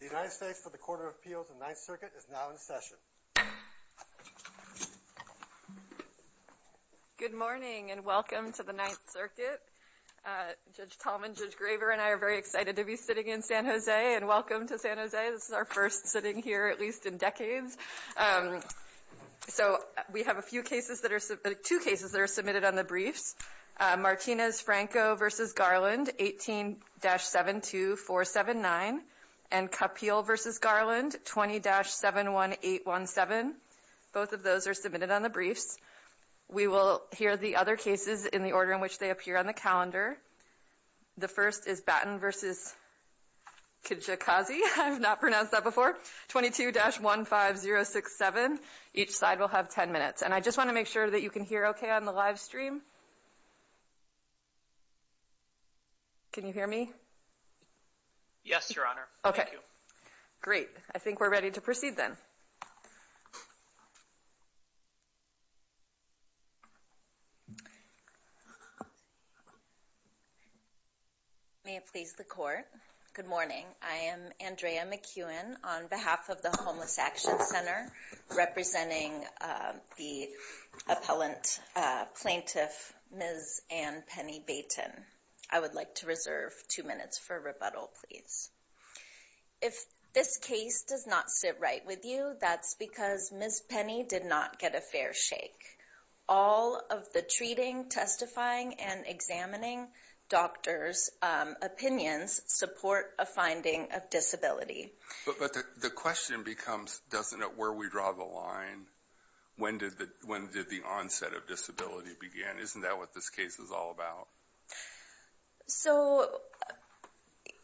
The United States for the Court of Appeals in the Ninth Circuit is now in session. Good morning and welcome to the Ninth Circuit. Judge Tallman, Judge Graver and I are very excited to be sitting in San Jose and welcome to San Jose. This is our first sitting here at least in decades. So we have two cases that are submitted on the briefs. Martinez-Franco v. Garland, 18-72479 and Kapil v. Garland, 20-71817. Both of those are submitted on the briefs. We will hear the other cases in the order in which they appear on the calendar. The first is Baten v. Kijakazi, 22-15067. Each side will have 10 minutes and I just want to make sure that you can hear okay on the live stream. Can you hear me? Yes, Your Honor. Okay. Thank you. Great. I think we're ready to proceed then. May it please the Court, good morning, I am Andrea McEwen on behalf of the Homeless Action Center representing the appellant plaintiff, Ms. Anne Penny Baten. I would like to reserve two minutes for rebuttal, please. If this case does not sit right with you, that's because Ms. Penny did not get a fair shake. All of the treating, testifying and examining doctors' opinions support a finding of disability. But the question becomes, doesn't it, where we draw the line, when did the onset of disability begin? Isn't that what this case is all about? So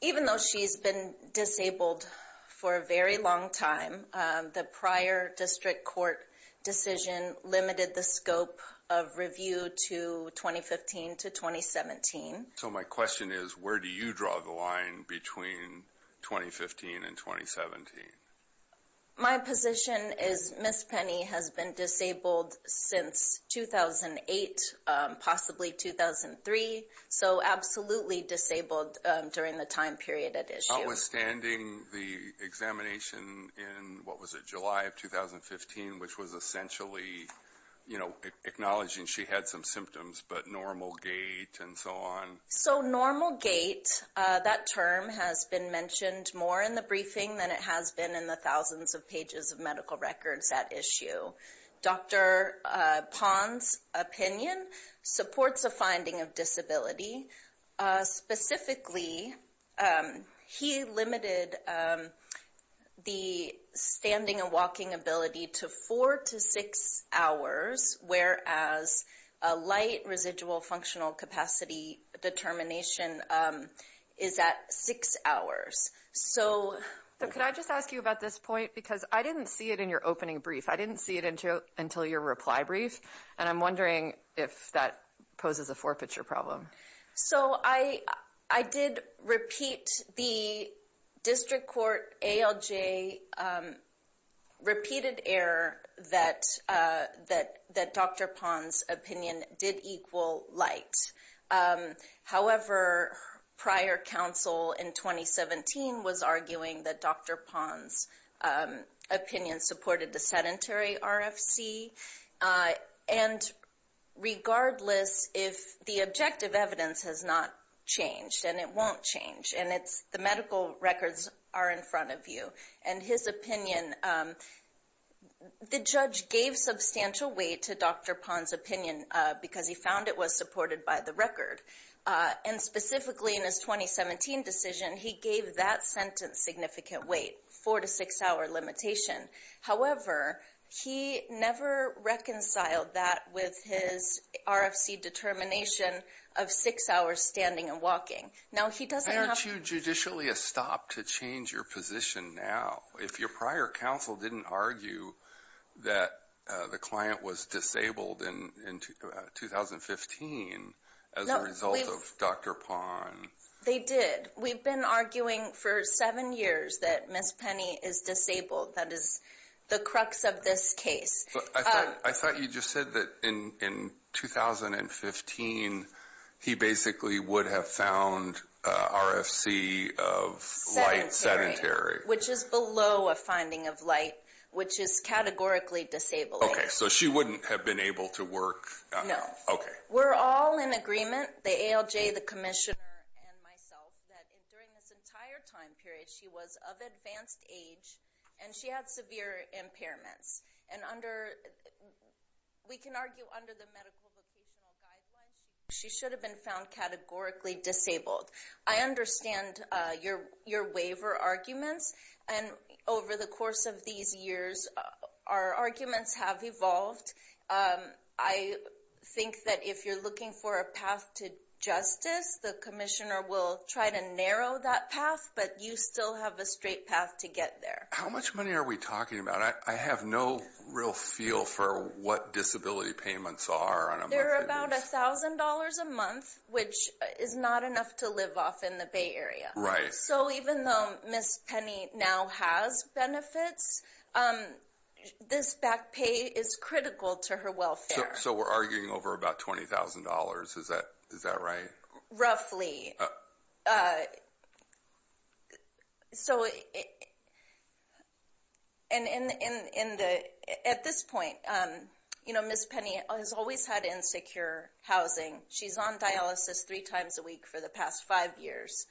even though she's been disabled for a very long time, the prior district court decision limited the scope of review to 2015 to 2017. So my question is, where do you draw the line between 2015 and 2017? My position is Ms. Penny has been disabled since 2008, possibly 2003. So absolutely disabled during the time period at issue. Notwithstanding the examination in, what was it, July of 2015, which was essentially, you So normal gait, that term has been mentioned more in the briefing than it has been in the thousands of pages of medical records at issue. Dr. Pond's opinion supports a finding of disability, specifically he limited the standing and walking ability to four to six hours, whereas a light residual functional capacity determination is at six hours. So could I just ask you about this point? Because I didn't see it in your opening brief. I didn't see it until your reply brief. And I'm wondering if that poses a four-picture problem. So I did repeat the district court ALJ repeated error that Dr. Pond's opinion did equal light. However, prior counsel in 2017 was arguing that Dr. Pond's opinion supported the sedentary RFC. And regardless if the objective evidence has not changed and it won't change and it's the medical records are in front of you and his opinion, the judge gave substantial weight to Dr. Pond's opinion because he found it was supported by the record. And specifically in his 2017 decision, he gave that sentence significant weight, four to six hour limitation. However, he never reconciled that with his RFC determination of six hours standing and walking. Now, he doesn't have to- Aren't you judicially a stop to change your position now? If your prior counsel didn't argue that the client was disabled in 2015 as a result of Dr. Pond- They did. We've been arguing for seven years that Ms. Penny is disabled. That is the crux of this case. I thought you just said that in 2015, he basically would have found RFC of light sedentary. Which is below a finding of light, which is categorically disabled. Okay. So she wouldn't have been able to work? No. Okay. We're all in agreement, the ALJ, the commissioner, and myself, that during this entire time period, she was of advanced age and she had severe impairments. And under, we can argue under the medical vocational guidelines, she should have been found categorically disabled. I understand your waiver arguments. And over the course of these years, our arguments have evolved. I think that if you're looking for a path to justice, the commissioner will try to narrow that path, but you still have a straight path to get there. How much money are we talking about? I have no real feel for what disability payments are on a monthly basis. They're about $1,000 a month, which is not enough to live off in the Bay Area. Right. So even though Ms. Penny now has benefits, this back pay is critical to her welfare. So we're arguing over about $20,000, is that right? Roughly. So at this point, Ms. Penny has always had insecure housing. She's on dialysis three times a week for the past five years.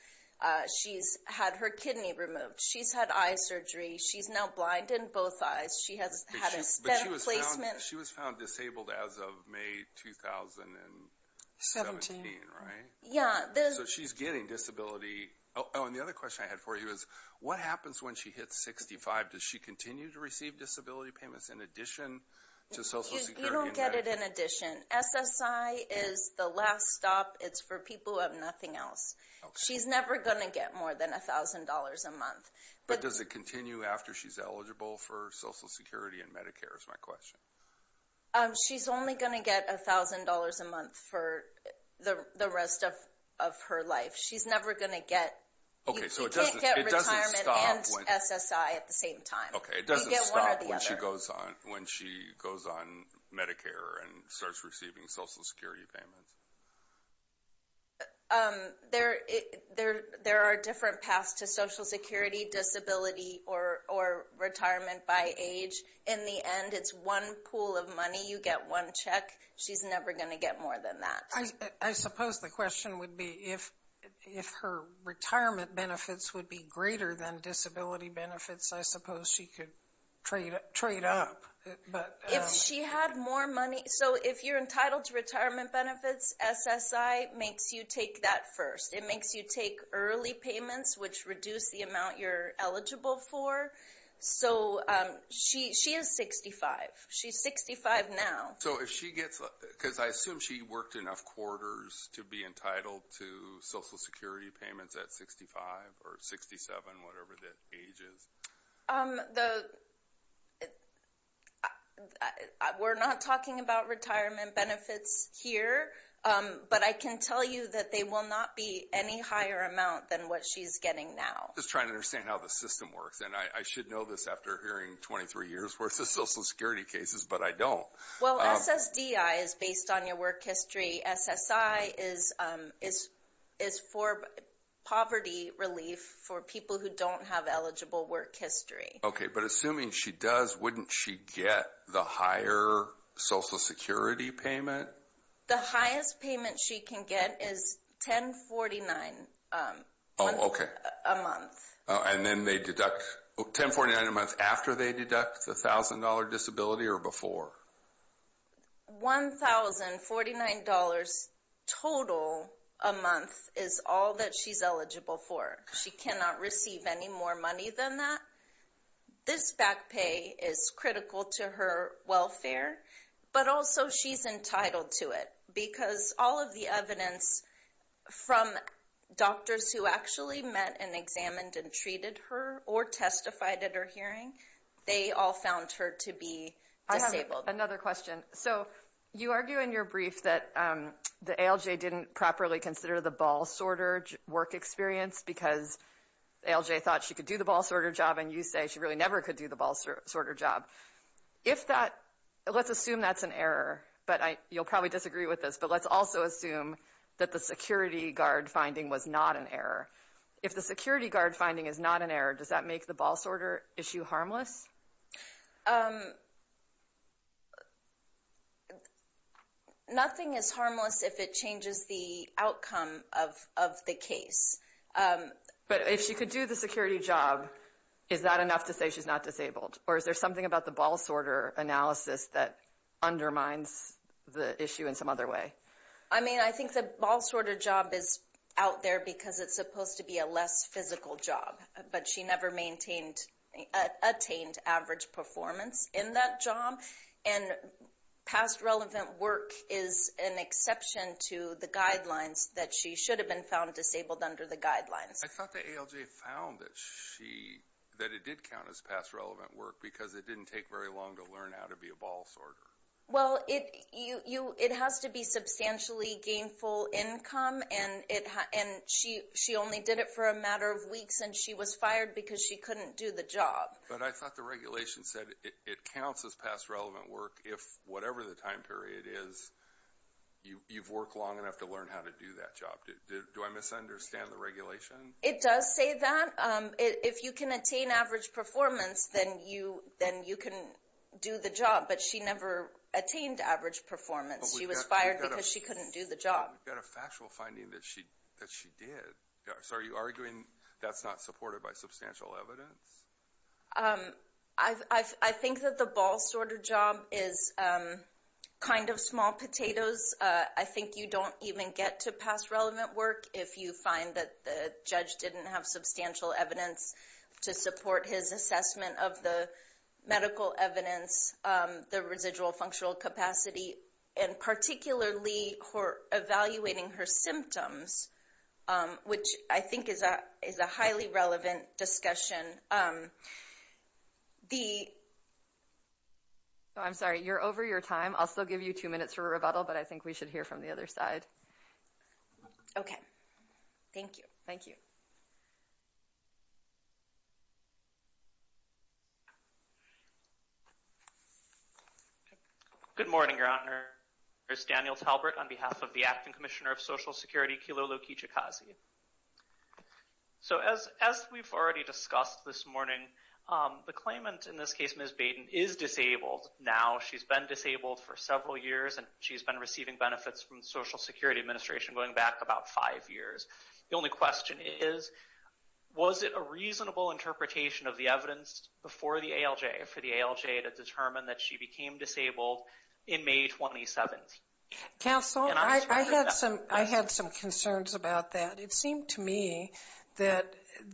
She's had her kidney removed. She's had eye surgery. She's now blind in both eyes. She has had a spent placement. She was found disabled as of May 2017, right? Yeah. So she's getting disability. Oh, and the other question I had for you is, what happens when she hits 65? Does she continue to receive disability payments in addition to Social Security? You don't get it in addition. SSI is the last stop. It's for people who have nothing else. She's never going to get more than $1,000 a month. But does it continue after she's eligible for Social Security and Medicare, is my question? She's only going to get $1,000 a month for the rest of her life. She's never going to get... So it doesn't stop when... You can't get retirement and SSI at the same time. Okay. You get one or the other. It doesn't stop when she goes on Medicare and starts receiving Social Security payments. There are different paths to Social Security, disability, or retirement by age. In the end, it's one pool of money. You get one check. She's never going to get more than that. I suppose the question would be, if her retirement benefits would be greater than disability benefits, I suppose she could trade up. If she had more money... If you're entitled to retirement benefits, SSI makes you take that first. It makes you take early payments, which reduce the amount you're eligible for. She is 65. She's 65 now. I assume she worked enough quarters to be entitled to Social Security payments at 65 or 67, whatever that age is. The... We're not talking about retirement benefits here, but I can tell you that they will not be any higher amount than what she's getting now. Just trying to understand how the system works. And I should know this after hearing 23 years worth of Social Security cases, but I don't. Well, SSDI is based on your work history. SSI is for poverty relief for people who don't have eligible work history. Okay, but assuming she does, wouldn't she get the higher Social Security payment? The highest payment she can get is $1049 a month. And then they deduct... $1049 a month after they deduct the $1,000 disability or before? $1,049 total a month is all that she's eligible for. She cannot receive any more money than that. This back pay is critical to her welfare, but also she's entitled to it because all of the evidence from doctors who actually met and examined and treated her or testified at her hearing, they all found her to be disabled. Another question. So you argue in your brief that the ALJ didn't properly consider the ball sorter work experience because ALJ thought she could do the ball sorter job and you say she really never could do the ball sorter job. If that, let's assume that's an error, but you'll probably disagree with this, but let's also assume that the security guard finding was not an error. If the security guard finding is not an error, does that make the ball sorter issue harmless? Nothing is harmless if it changes the outcome of the case. But if she could do the security job, is that enough to say she's not disabled? Or is there something about the ball sorter analysis that undermines the issue in some other way? I mean, I think the ball sorter job is out there because it's supposed to be a less physical job, but she never attained average performance in that job. And past relevant work is an exception to the guidelines that she should have been found disabled under the guidelines. I thought the ALJ found that it did count as past relevant work because it didn't take very long to learn how to be a ball sorter. Well, it has to be substantially gainful income and she only did it for a matter of weeks and she was fired because she couldn't do the job. But I thought the regulation said it counts as past relevant work if whatever the time period is, you've worked long enough to learn how to do that job. Do I misunderstand the regulation? It does say that. If you can attain average performance, then you can do the job. But she never attained average performance. She was fired because she couldn't do the job. But we've got a factual finding that she did. So are you arguing that's not supported by substantial evidence? I think that the ball sorter job is kind of small potatoes. I think you don't even get to past relevant work if you find that the judge didn't have substantial evidence to support his assessment of the medical evidence, the residual functional capacity, and particularly for evaluating her symptoms, which I think is a highly relevant discussion. The I'm sorry, you're over your time. I'll still give you two minutes for a rebuttal, but I think we should hear from the other side. Okay, thank you. Thank you. Good morning, Your Honor. There's Daniel Talbert on behalf of the Acting Commissioner of Social Security, Kilolo Kijikazi. So as we've already discussed this morning, the claimant in this case, Ms. Baden, is disabled now. She's been disabled for several years, and she's been receiving benefits from the Social Security Administration going back about five years. The only question is, was it a reasonable interpretation of the evidence before the ALJ, for the ALJ to determine that she became disabled in May 2017? Counsel, I had some concerns about that. It seemed to me that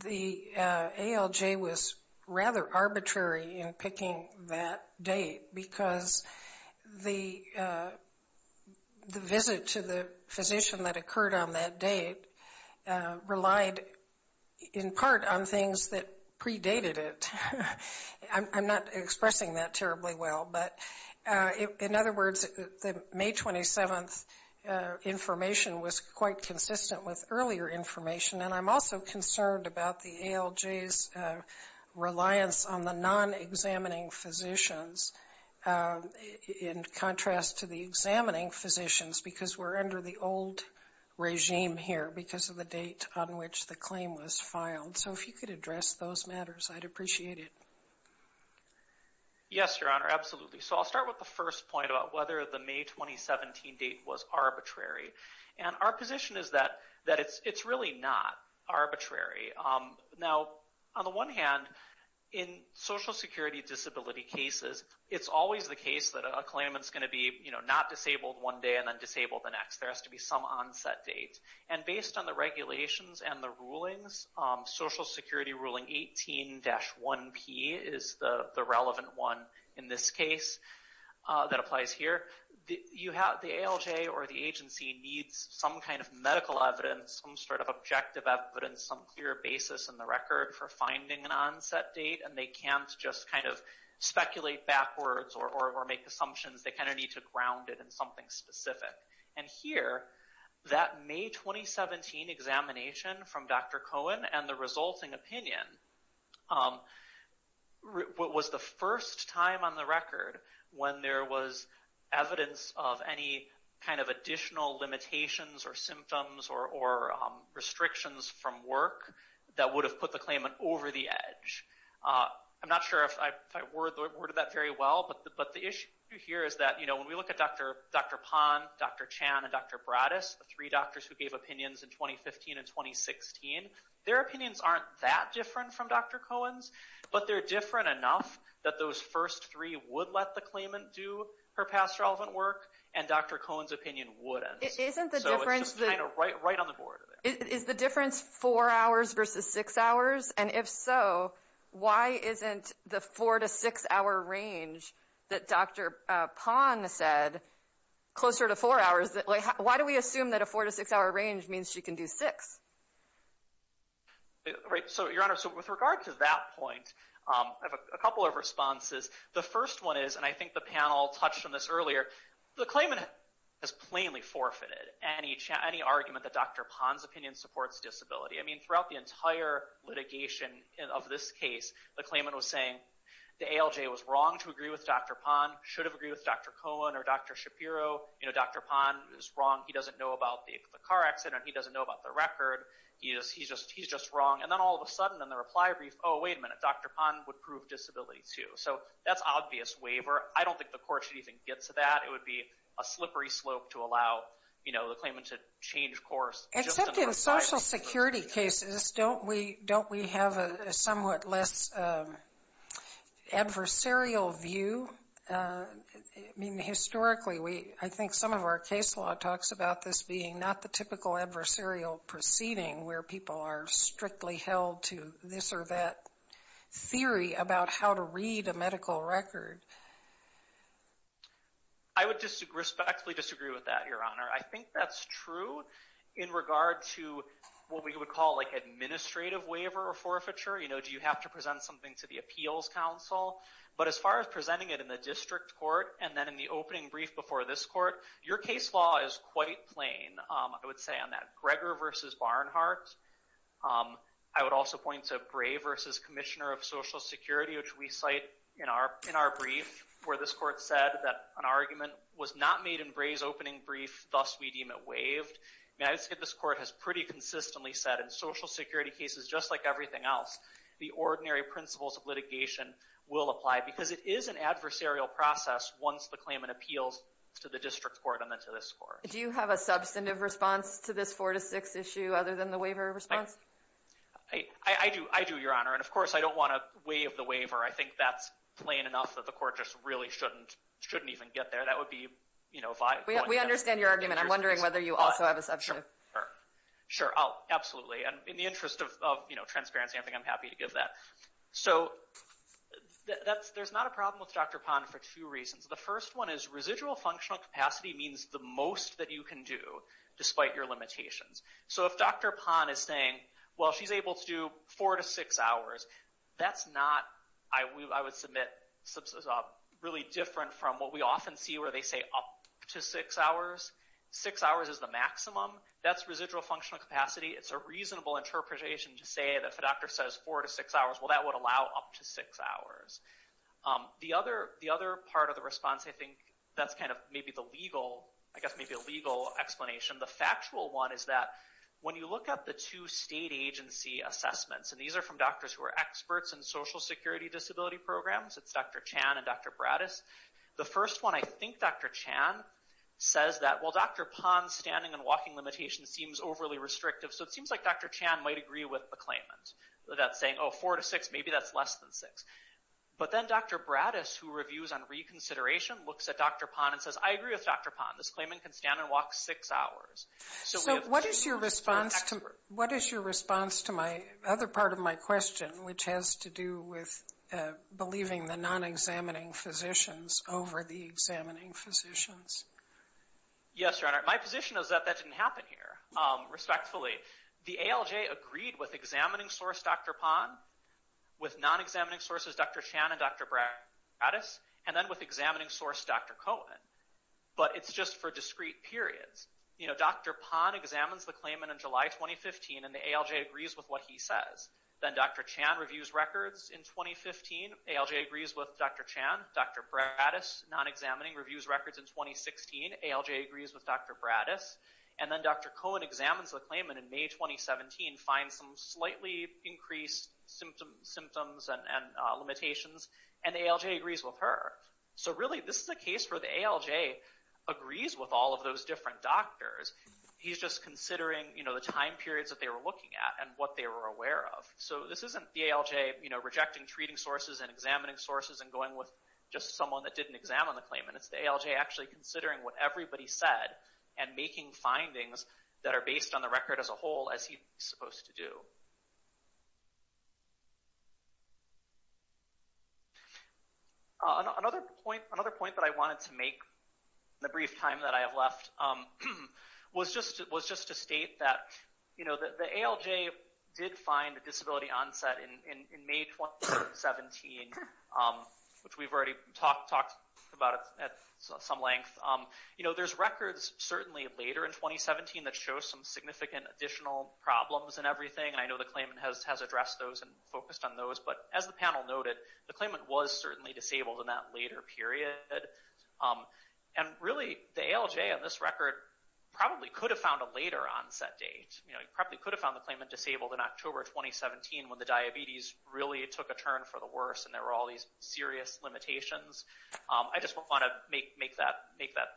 the ALJ was rather arbitrary in picking that date, because the visit to the physician that occurred on that date relied in part on things that predated it. I'm not expressing that terribly well, but in other words, the May 27th information was quite consistent with earlier information. And I'm also concerned about the ALJ's reliance on the non-examining physicians in contrast to the examining physicians, because we're under the old regime here because of the date on which the claim was filed. So if you could address those matters, I'd appreciate it. Yes, Your Honor, absolutely. So I'll start with the first point about whether the May 2017 date was arbitrary. And our position is that it's really not arbitrary. Now, on the one hand, in Social Security disability cases, it's always the case that a claimant's going to be not disabled one day and then disabled the next. There has to be some onset date. And based on the regulations and the rulings, Social Security Ruling 18-1P is the relevant one in this case that applies here. You have the ALJ or the agency needs some kind of medical evidence, some sort of objective evidence, some clear basis in the record for finding an onset date, and they can't just kind of speculate backwards or make assumptions. They kind of need to ground it in something specific. And here, that May 2017 examination from Dr. Cohen and the resulting opinion was the first time on the record when there was evidence of any kind of additional limitations or symptoms or restrictions from work that would have put the claimant over the edge. I'm not sure if I worded that very well, but the issue here is that, you know, when we look at Dr. Pond, Dr. Chan, and Dr. Bradis, the three doctors who gave opinions in 2015 and 2016, their opinions aren't that different from Dr. Cohen's, but they're different enough that those first three would let the claimant do her past relevant work, and Dr. Cohen's opinion wouldn't. It isn't the difference. So it's just kind of right on the board. Is the difference four hours versus six hours? And if so, why isn't the four to six hour range that Dr. Pond said closer to four hours? Why do we assume that a four to six hour range means she can do six? Right. So with regard to that point, I have a couple of responses. The first one is, and I think the panel touched on this earlier, the claimant has plainly forfeited any argument that Dr. Pond's opinion supports disability. I mean, throughout the entire litigation of this case, the claimant was saying the ALJ was wrong to agree with Dr. Pond, should have agreed with Dr. Cohen or Dr. Shapiro. Dr. Pond is wrong. He doesn't know about the car accident. He doesn't know about the record. He's just wrong. And then all of a sudden, in the reply brief, oh, wait a minute, Dr. Pond would prove disability too. So that's obvious waiver. I don't think the court should even get to that. It would be a slippery slope to allow the claimant to change course. Except in Social Security cases, don't we have a somewhat less adversarial view? I mean, historically, I think some of our case law talks about this being not the typical adversarial proceeding where people are strictly held to this or that theory about how to read a medical record. I would respectfully disagree with that, Your Honor. I think that's true in regard to what we would call like administrative waiver or forfeiture. You know, do you have to present something to the appeals counsel? But as far as presenting it in the district court and then in the opening brief before this court, your case law is quite plain, I would say, on that. Gregor versus Barnhart. I would also point to Gray versus Commissioner of Social Security, which we cite in our brief where this court said that an argument was not made in Gray's opening brief. Thus, we deem it waived. And I would say this court has pretty consistently said in Social Security cases, just like everything else, the ordinary principles of litigation will apply because it is an adversarial process once the claimant appeals to the district court and then to this court. Do you have a substantive response to this 4-6 issue other than the waiver response? I do, Your Honor. And of course, I don't want to waive the waiver. I think that's plain enough that the court just really shouldn't even get there. That would be, you know, if I— We understand your argument. I'm wondering whether you also have a substantive— Sure. Sure. Sure. Sure. Sure. of, you know, transparency. I think I'm happy to give that. So there's not a problem with Dr. Pond for two reasons. The first one is residual functional capacity means the most that you can do despite your limitations. So if Dr. Pond is saying, well, she's able to do four to six hours, that's not, I would submit, really different from what we often see where they say up to six hours. Six hours is the maximum. That's residual functional capacity. It's a reasonable interpretation to say that if a doctor says four to six hours, well, that would allow up to six hours. The other part of the response, I think, that's kind of maybe the legal, I guess, maybe a legal explanation. The factual one is that when you look at the two state agency assessments, and these are from doctors who are experts in social security disability programs. It's Dr. Chan and Dr. Bratis. The first one, I think Dr. Chan says that, well, Dr. Pond's standing and walking limitation seems overly restrictive. So it seems like Dr. Chan might agree with a claimant that's saying, oh, four to six, maybe that's less than six. But then Dr. Bratis, who reviews on reconsideration, looks at Dr. Pond and says, I agree with Dr. Pond. This claimant can stand and walk six hours. So we have two experts. So what is your response to my other part of my question, which has to do with believing the non-examining physicians over the examining physicians? Yes, Your Honor. My position is that that didn't happen here, respectfully. The ALJ agreed with examining source Dr. Pond, with non-examining sources Dr. Chan and Dr. Bratis, and then with examining source Dr. Cohen. But it's just for discrete periods. Dr. Pond examines the claimant in July 2015, and the ALJ agrees with what he says. Then Dr. Chan reviews records in 2015. ALJ agrees with Dr. Chan. Dr. Bratis, non-examining, reviews records in 2016. ALJ agrees with Dr. Bratis. And then Dr. Cohen examines the claimant in May 2017, finds some slightly increased symptoms and limitations. And the ALJ agrees with her. So really, this is a case where the ALJ agrees with all of those different doctors. He's just considering the time periods that they were looking at and what they were aware of. So this isn't the ALJ rejecting treating sources and examining sources and going with just someone that didn't examine the claimant. It's the ALJ actually considering what everybody said and making findings that are based on the record as a whole as he's supposed to do. Another point that I wanted to make in the brief time that I have left was just to state that the ALJ did find a disability onset in May 2017, which we've already talked about at some length. There's records certainly later in 2017 that show some significant additional problems and everything. And I know the claimant has addressed those and focused on those. But as the panel noted, the claimant was certainly disabled in that later period. And really, the ALJ on this record probably could have found a later onset date. He probably could have found the claimant disabled in October 2017 when the diabetes really took a turn for the worse. And there were all these serious limitations. I just want to make that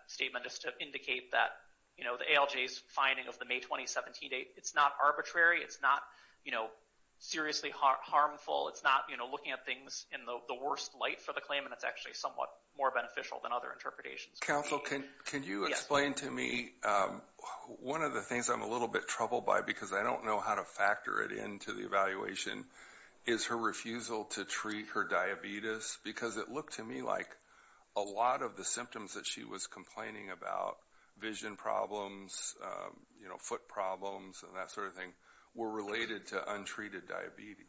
statement just to indicate that the ALJ's finding of the May 2017 date, it's not arbitrary. It's not seriously harmful. It's not looking at things in the worst light for the claimant. It's actually somewhat more beneficial than other interpretations. Counsel, can you explain to me one of the things I'm a little bit troubled by because I don't know how to factor it into the evaluation is her refusal to treat her diabetes. Because it looked to me like a lot of the symptoms that she was complaining about, vision problems, foot problems, and that sort of thing, were related to untreated diabetes.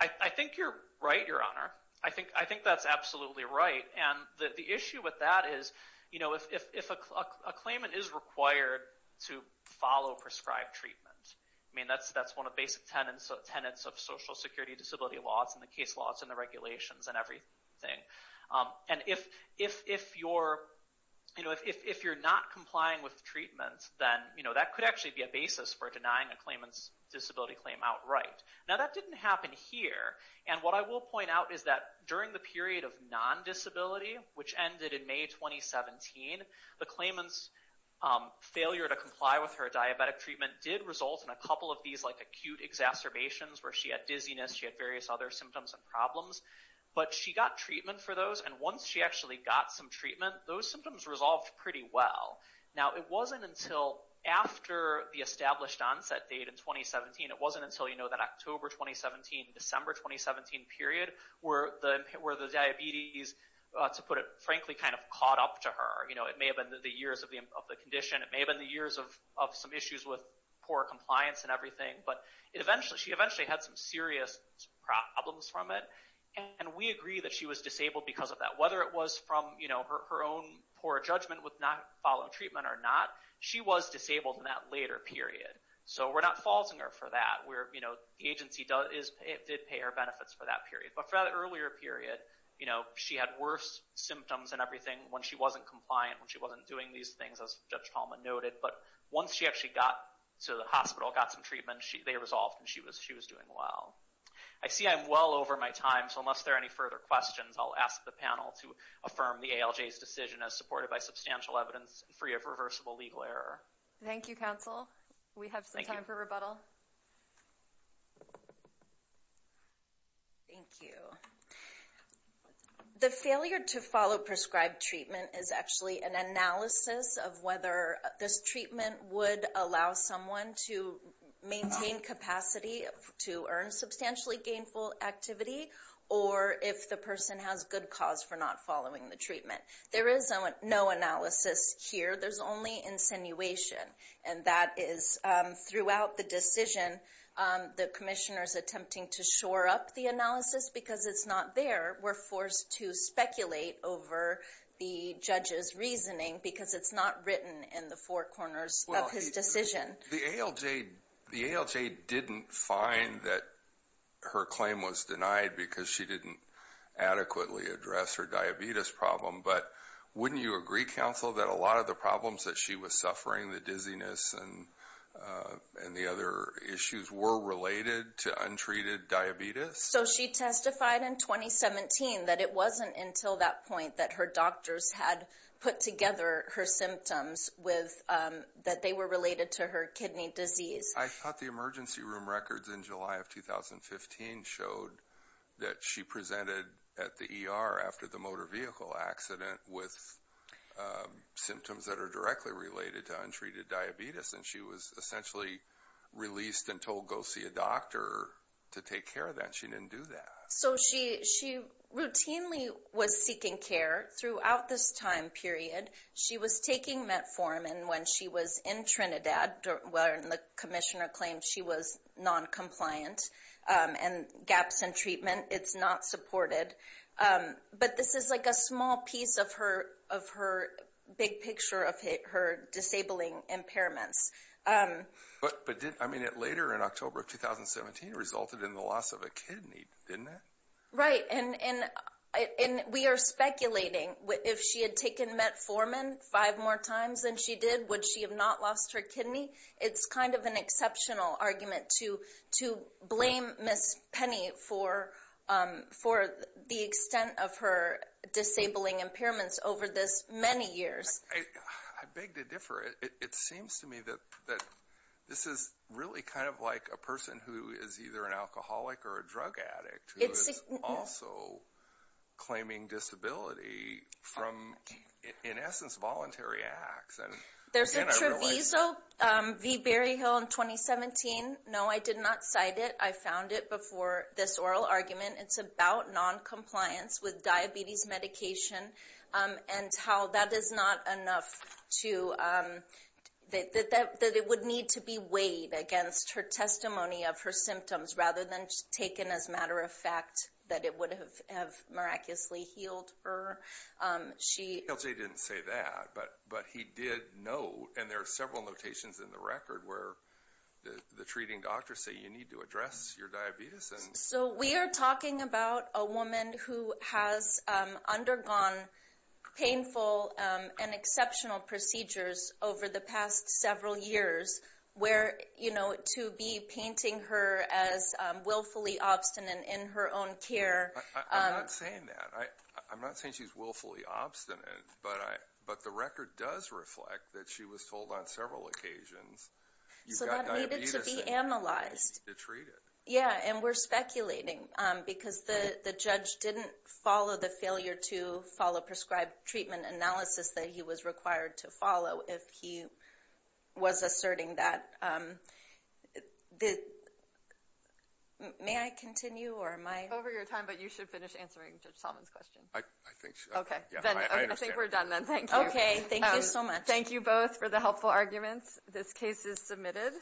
I think you're right, Your Honor. I think that's absolutely right. And the issue with that is if a claimant is required to follow prescribed treatment, I disability law, it's in the case law, it's in the regulations, and everything. And if you're not complying with treatment, then that could actually be a basis for denying a claimant's disability claim outright. Now, that didn't happen here. And what I will point out is that during the period of non-disability, which ended in May 2017, the claimant's failure to comply with her diabetic treatment did result in a couple of these acute exacerbations where she had dizziness, she had various other symptoms and problems. But she got treatment for those. And once she actually got some treatment, those symptoms resolved pretty well. Now, it wasn't until after the established onset date in 2017, it wasn't until that October 2017, December 2017 period, where the diabetes, to put it frankly, kind of caught up to her. It may have been the years of the condition, it may have been the years of some issues with poor compliance and everything, but she eventually had some serious problems from it. And we agree that she was disabled because of that. Whether it was from her own poor judgment with not following treatment or not, she was disabled in that later period. So we're not falsing her for that. The agency did pay her benefits for that period. But for that earlier period, she had worse symptoms and everything when she wasn't compliant, when she wasn't doing these things, as Judge Palmer noted. But once she actually got to the hospital, got some treatment, they resolved and she was doing well. I see I'm well over my time. So unless there are any further questions, I'll ask the panel to affirm the ALJ's decision as supported by substantial evidence and free of reversible legal error. Thank you, counsel. We have some time for rebuttal. Thank you. The failure to follow prescribed treatment is actually an analysis of whether this treatment would allow someone to maintain capacity to earn substantially gainful activity, or if the person has good cause for not following the treatment. There is no analysis here. There's only insinuation. And that is throughout the decision, the commissioner's attempting to shore up the analysis because it's not there. We're forced to speculate over the judge's reasoning because it's not written in the four corners of his decision. The ALJ didn't find that her claim was denied because she didn't adequately address her diabetes problem. But wouldn't you agree, counsel, that a lot of the problems that she was suffering, the dizziness and the other issues, were related to untreated diabetes? So she testified in 2017 that it wasn't until that point that her doctors had put together her symptoms with, that they were related to her kidney disease. I thought the emergency room records in July of 2015 showed that she presented at the ER after the motor vehicle accident with symptoms that are directly related to untreated diabetes. And she was essentially released and told, go see a doctor to take care of that. But she didn't do that. So she routinely was seeking care throughout this time period. She was taking Metformin when she was in Trinidad, when the commissioner claimed she was noncompliant and gaps in treatment, it's not supported. But this is like a small piece of her big picture of her disabling impairments. But did, I mean, it later in October of 2017 resulted in the loss of a kidney, didn't it? Right. And we are speculating if she had taken Metformin five more times than she did, would she have not lost her kidney? It's kind of an exceptional argument to blame Ms. Penny for the extent of her disabling impairments over this many years. I beg to differ. It seems to me that this is really kind of like a person who is either an alcoholic or a drug addict who is also claiming disability from, in essence, voluntary acts. There's a Treviso v. Berryhill in 2017. No, I did not cite it. I found it before this oral argument. It's about noncompliance with diabetes medication. And how that is not enough to, that it would need to be weighed against her testimony of her symptoms rather than taken as a matter of fact that it would have miraculously healed her. She- CLJ didn't say that, but he did know, and there are several notations in the record where the treating doctors say you need to address your diabetes and- So we are talking about a woman who has undergone painful and exceptional procedures over the past several years where, you know, to be painting her as willfully obstinate in her own care- I'm not saying that. I'm not saying she's willfully obstinate, but the record does reflect that she was told on several occasions you've got diabetes- So that needed to be analyzed. To treat it. Yeah, and we're speculating because the judge didn't follow the failure to follow prescribed treatment analysis that he was required to follow if he was asserting that. May I continue or am I- Over your time, but you should finish answering Judge Solomon's question. I think so. Okay, I think we're done then. Thank you. Okay, thank you so much. Thank you both for the helpful arguments. This case is submitted.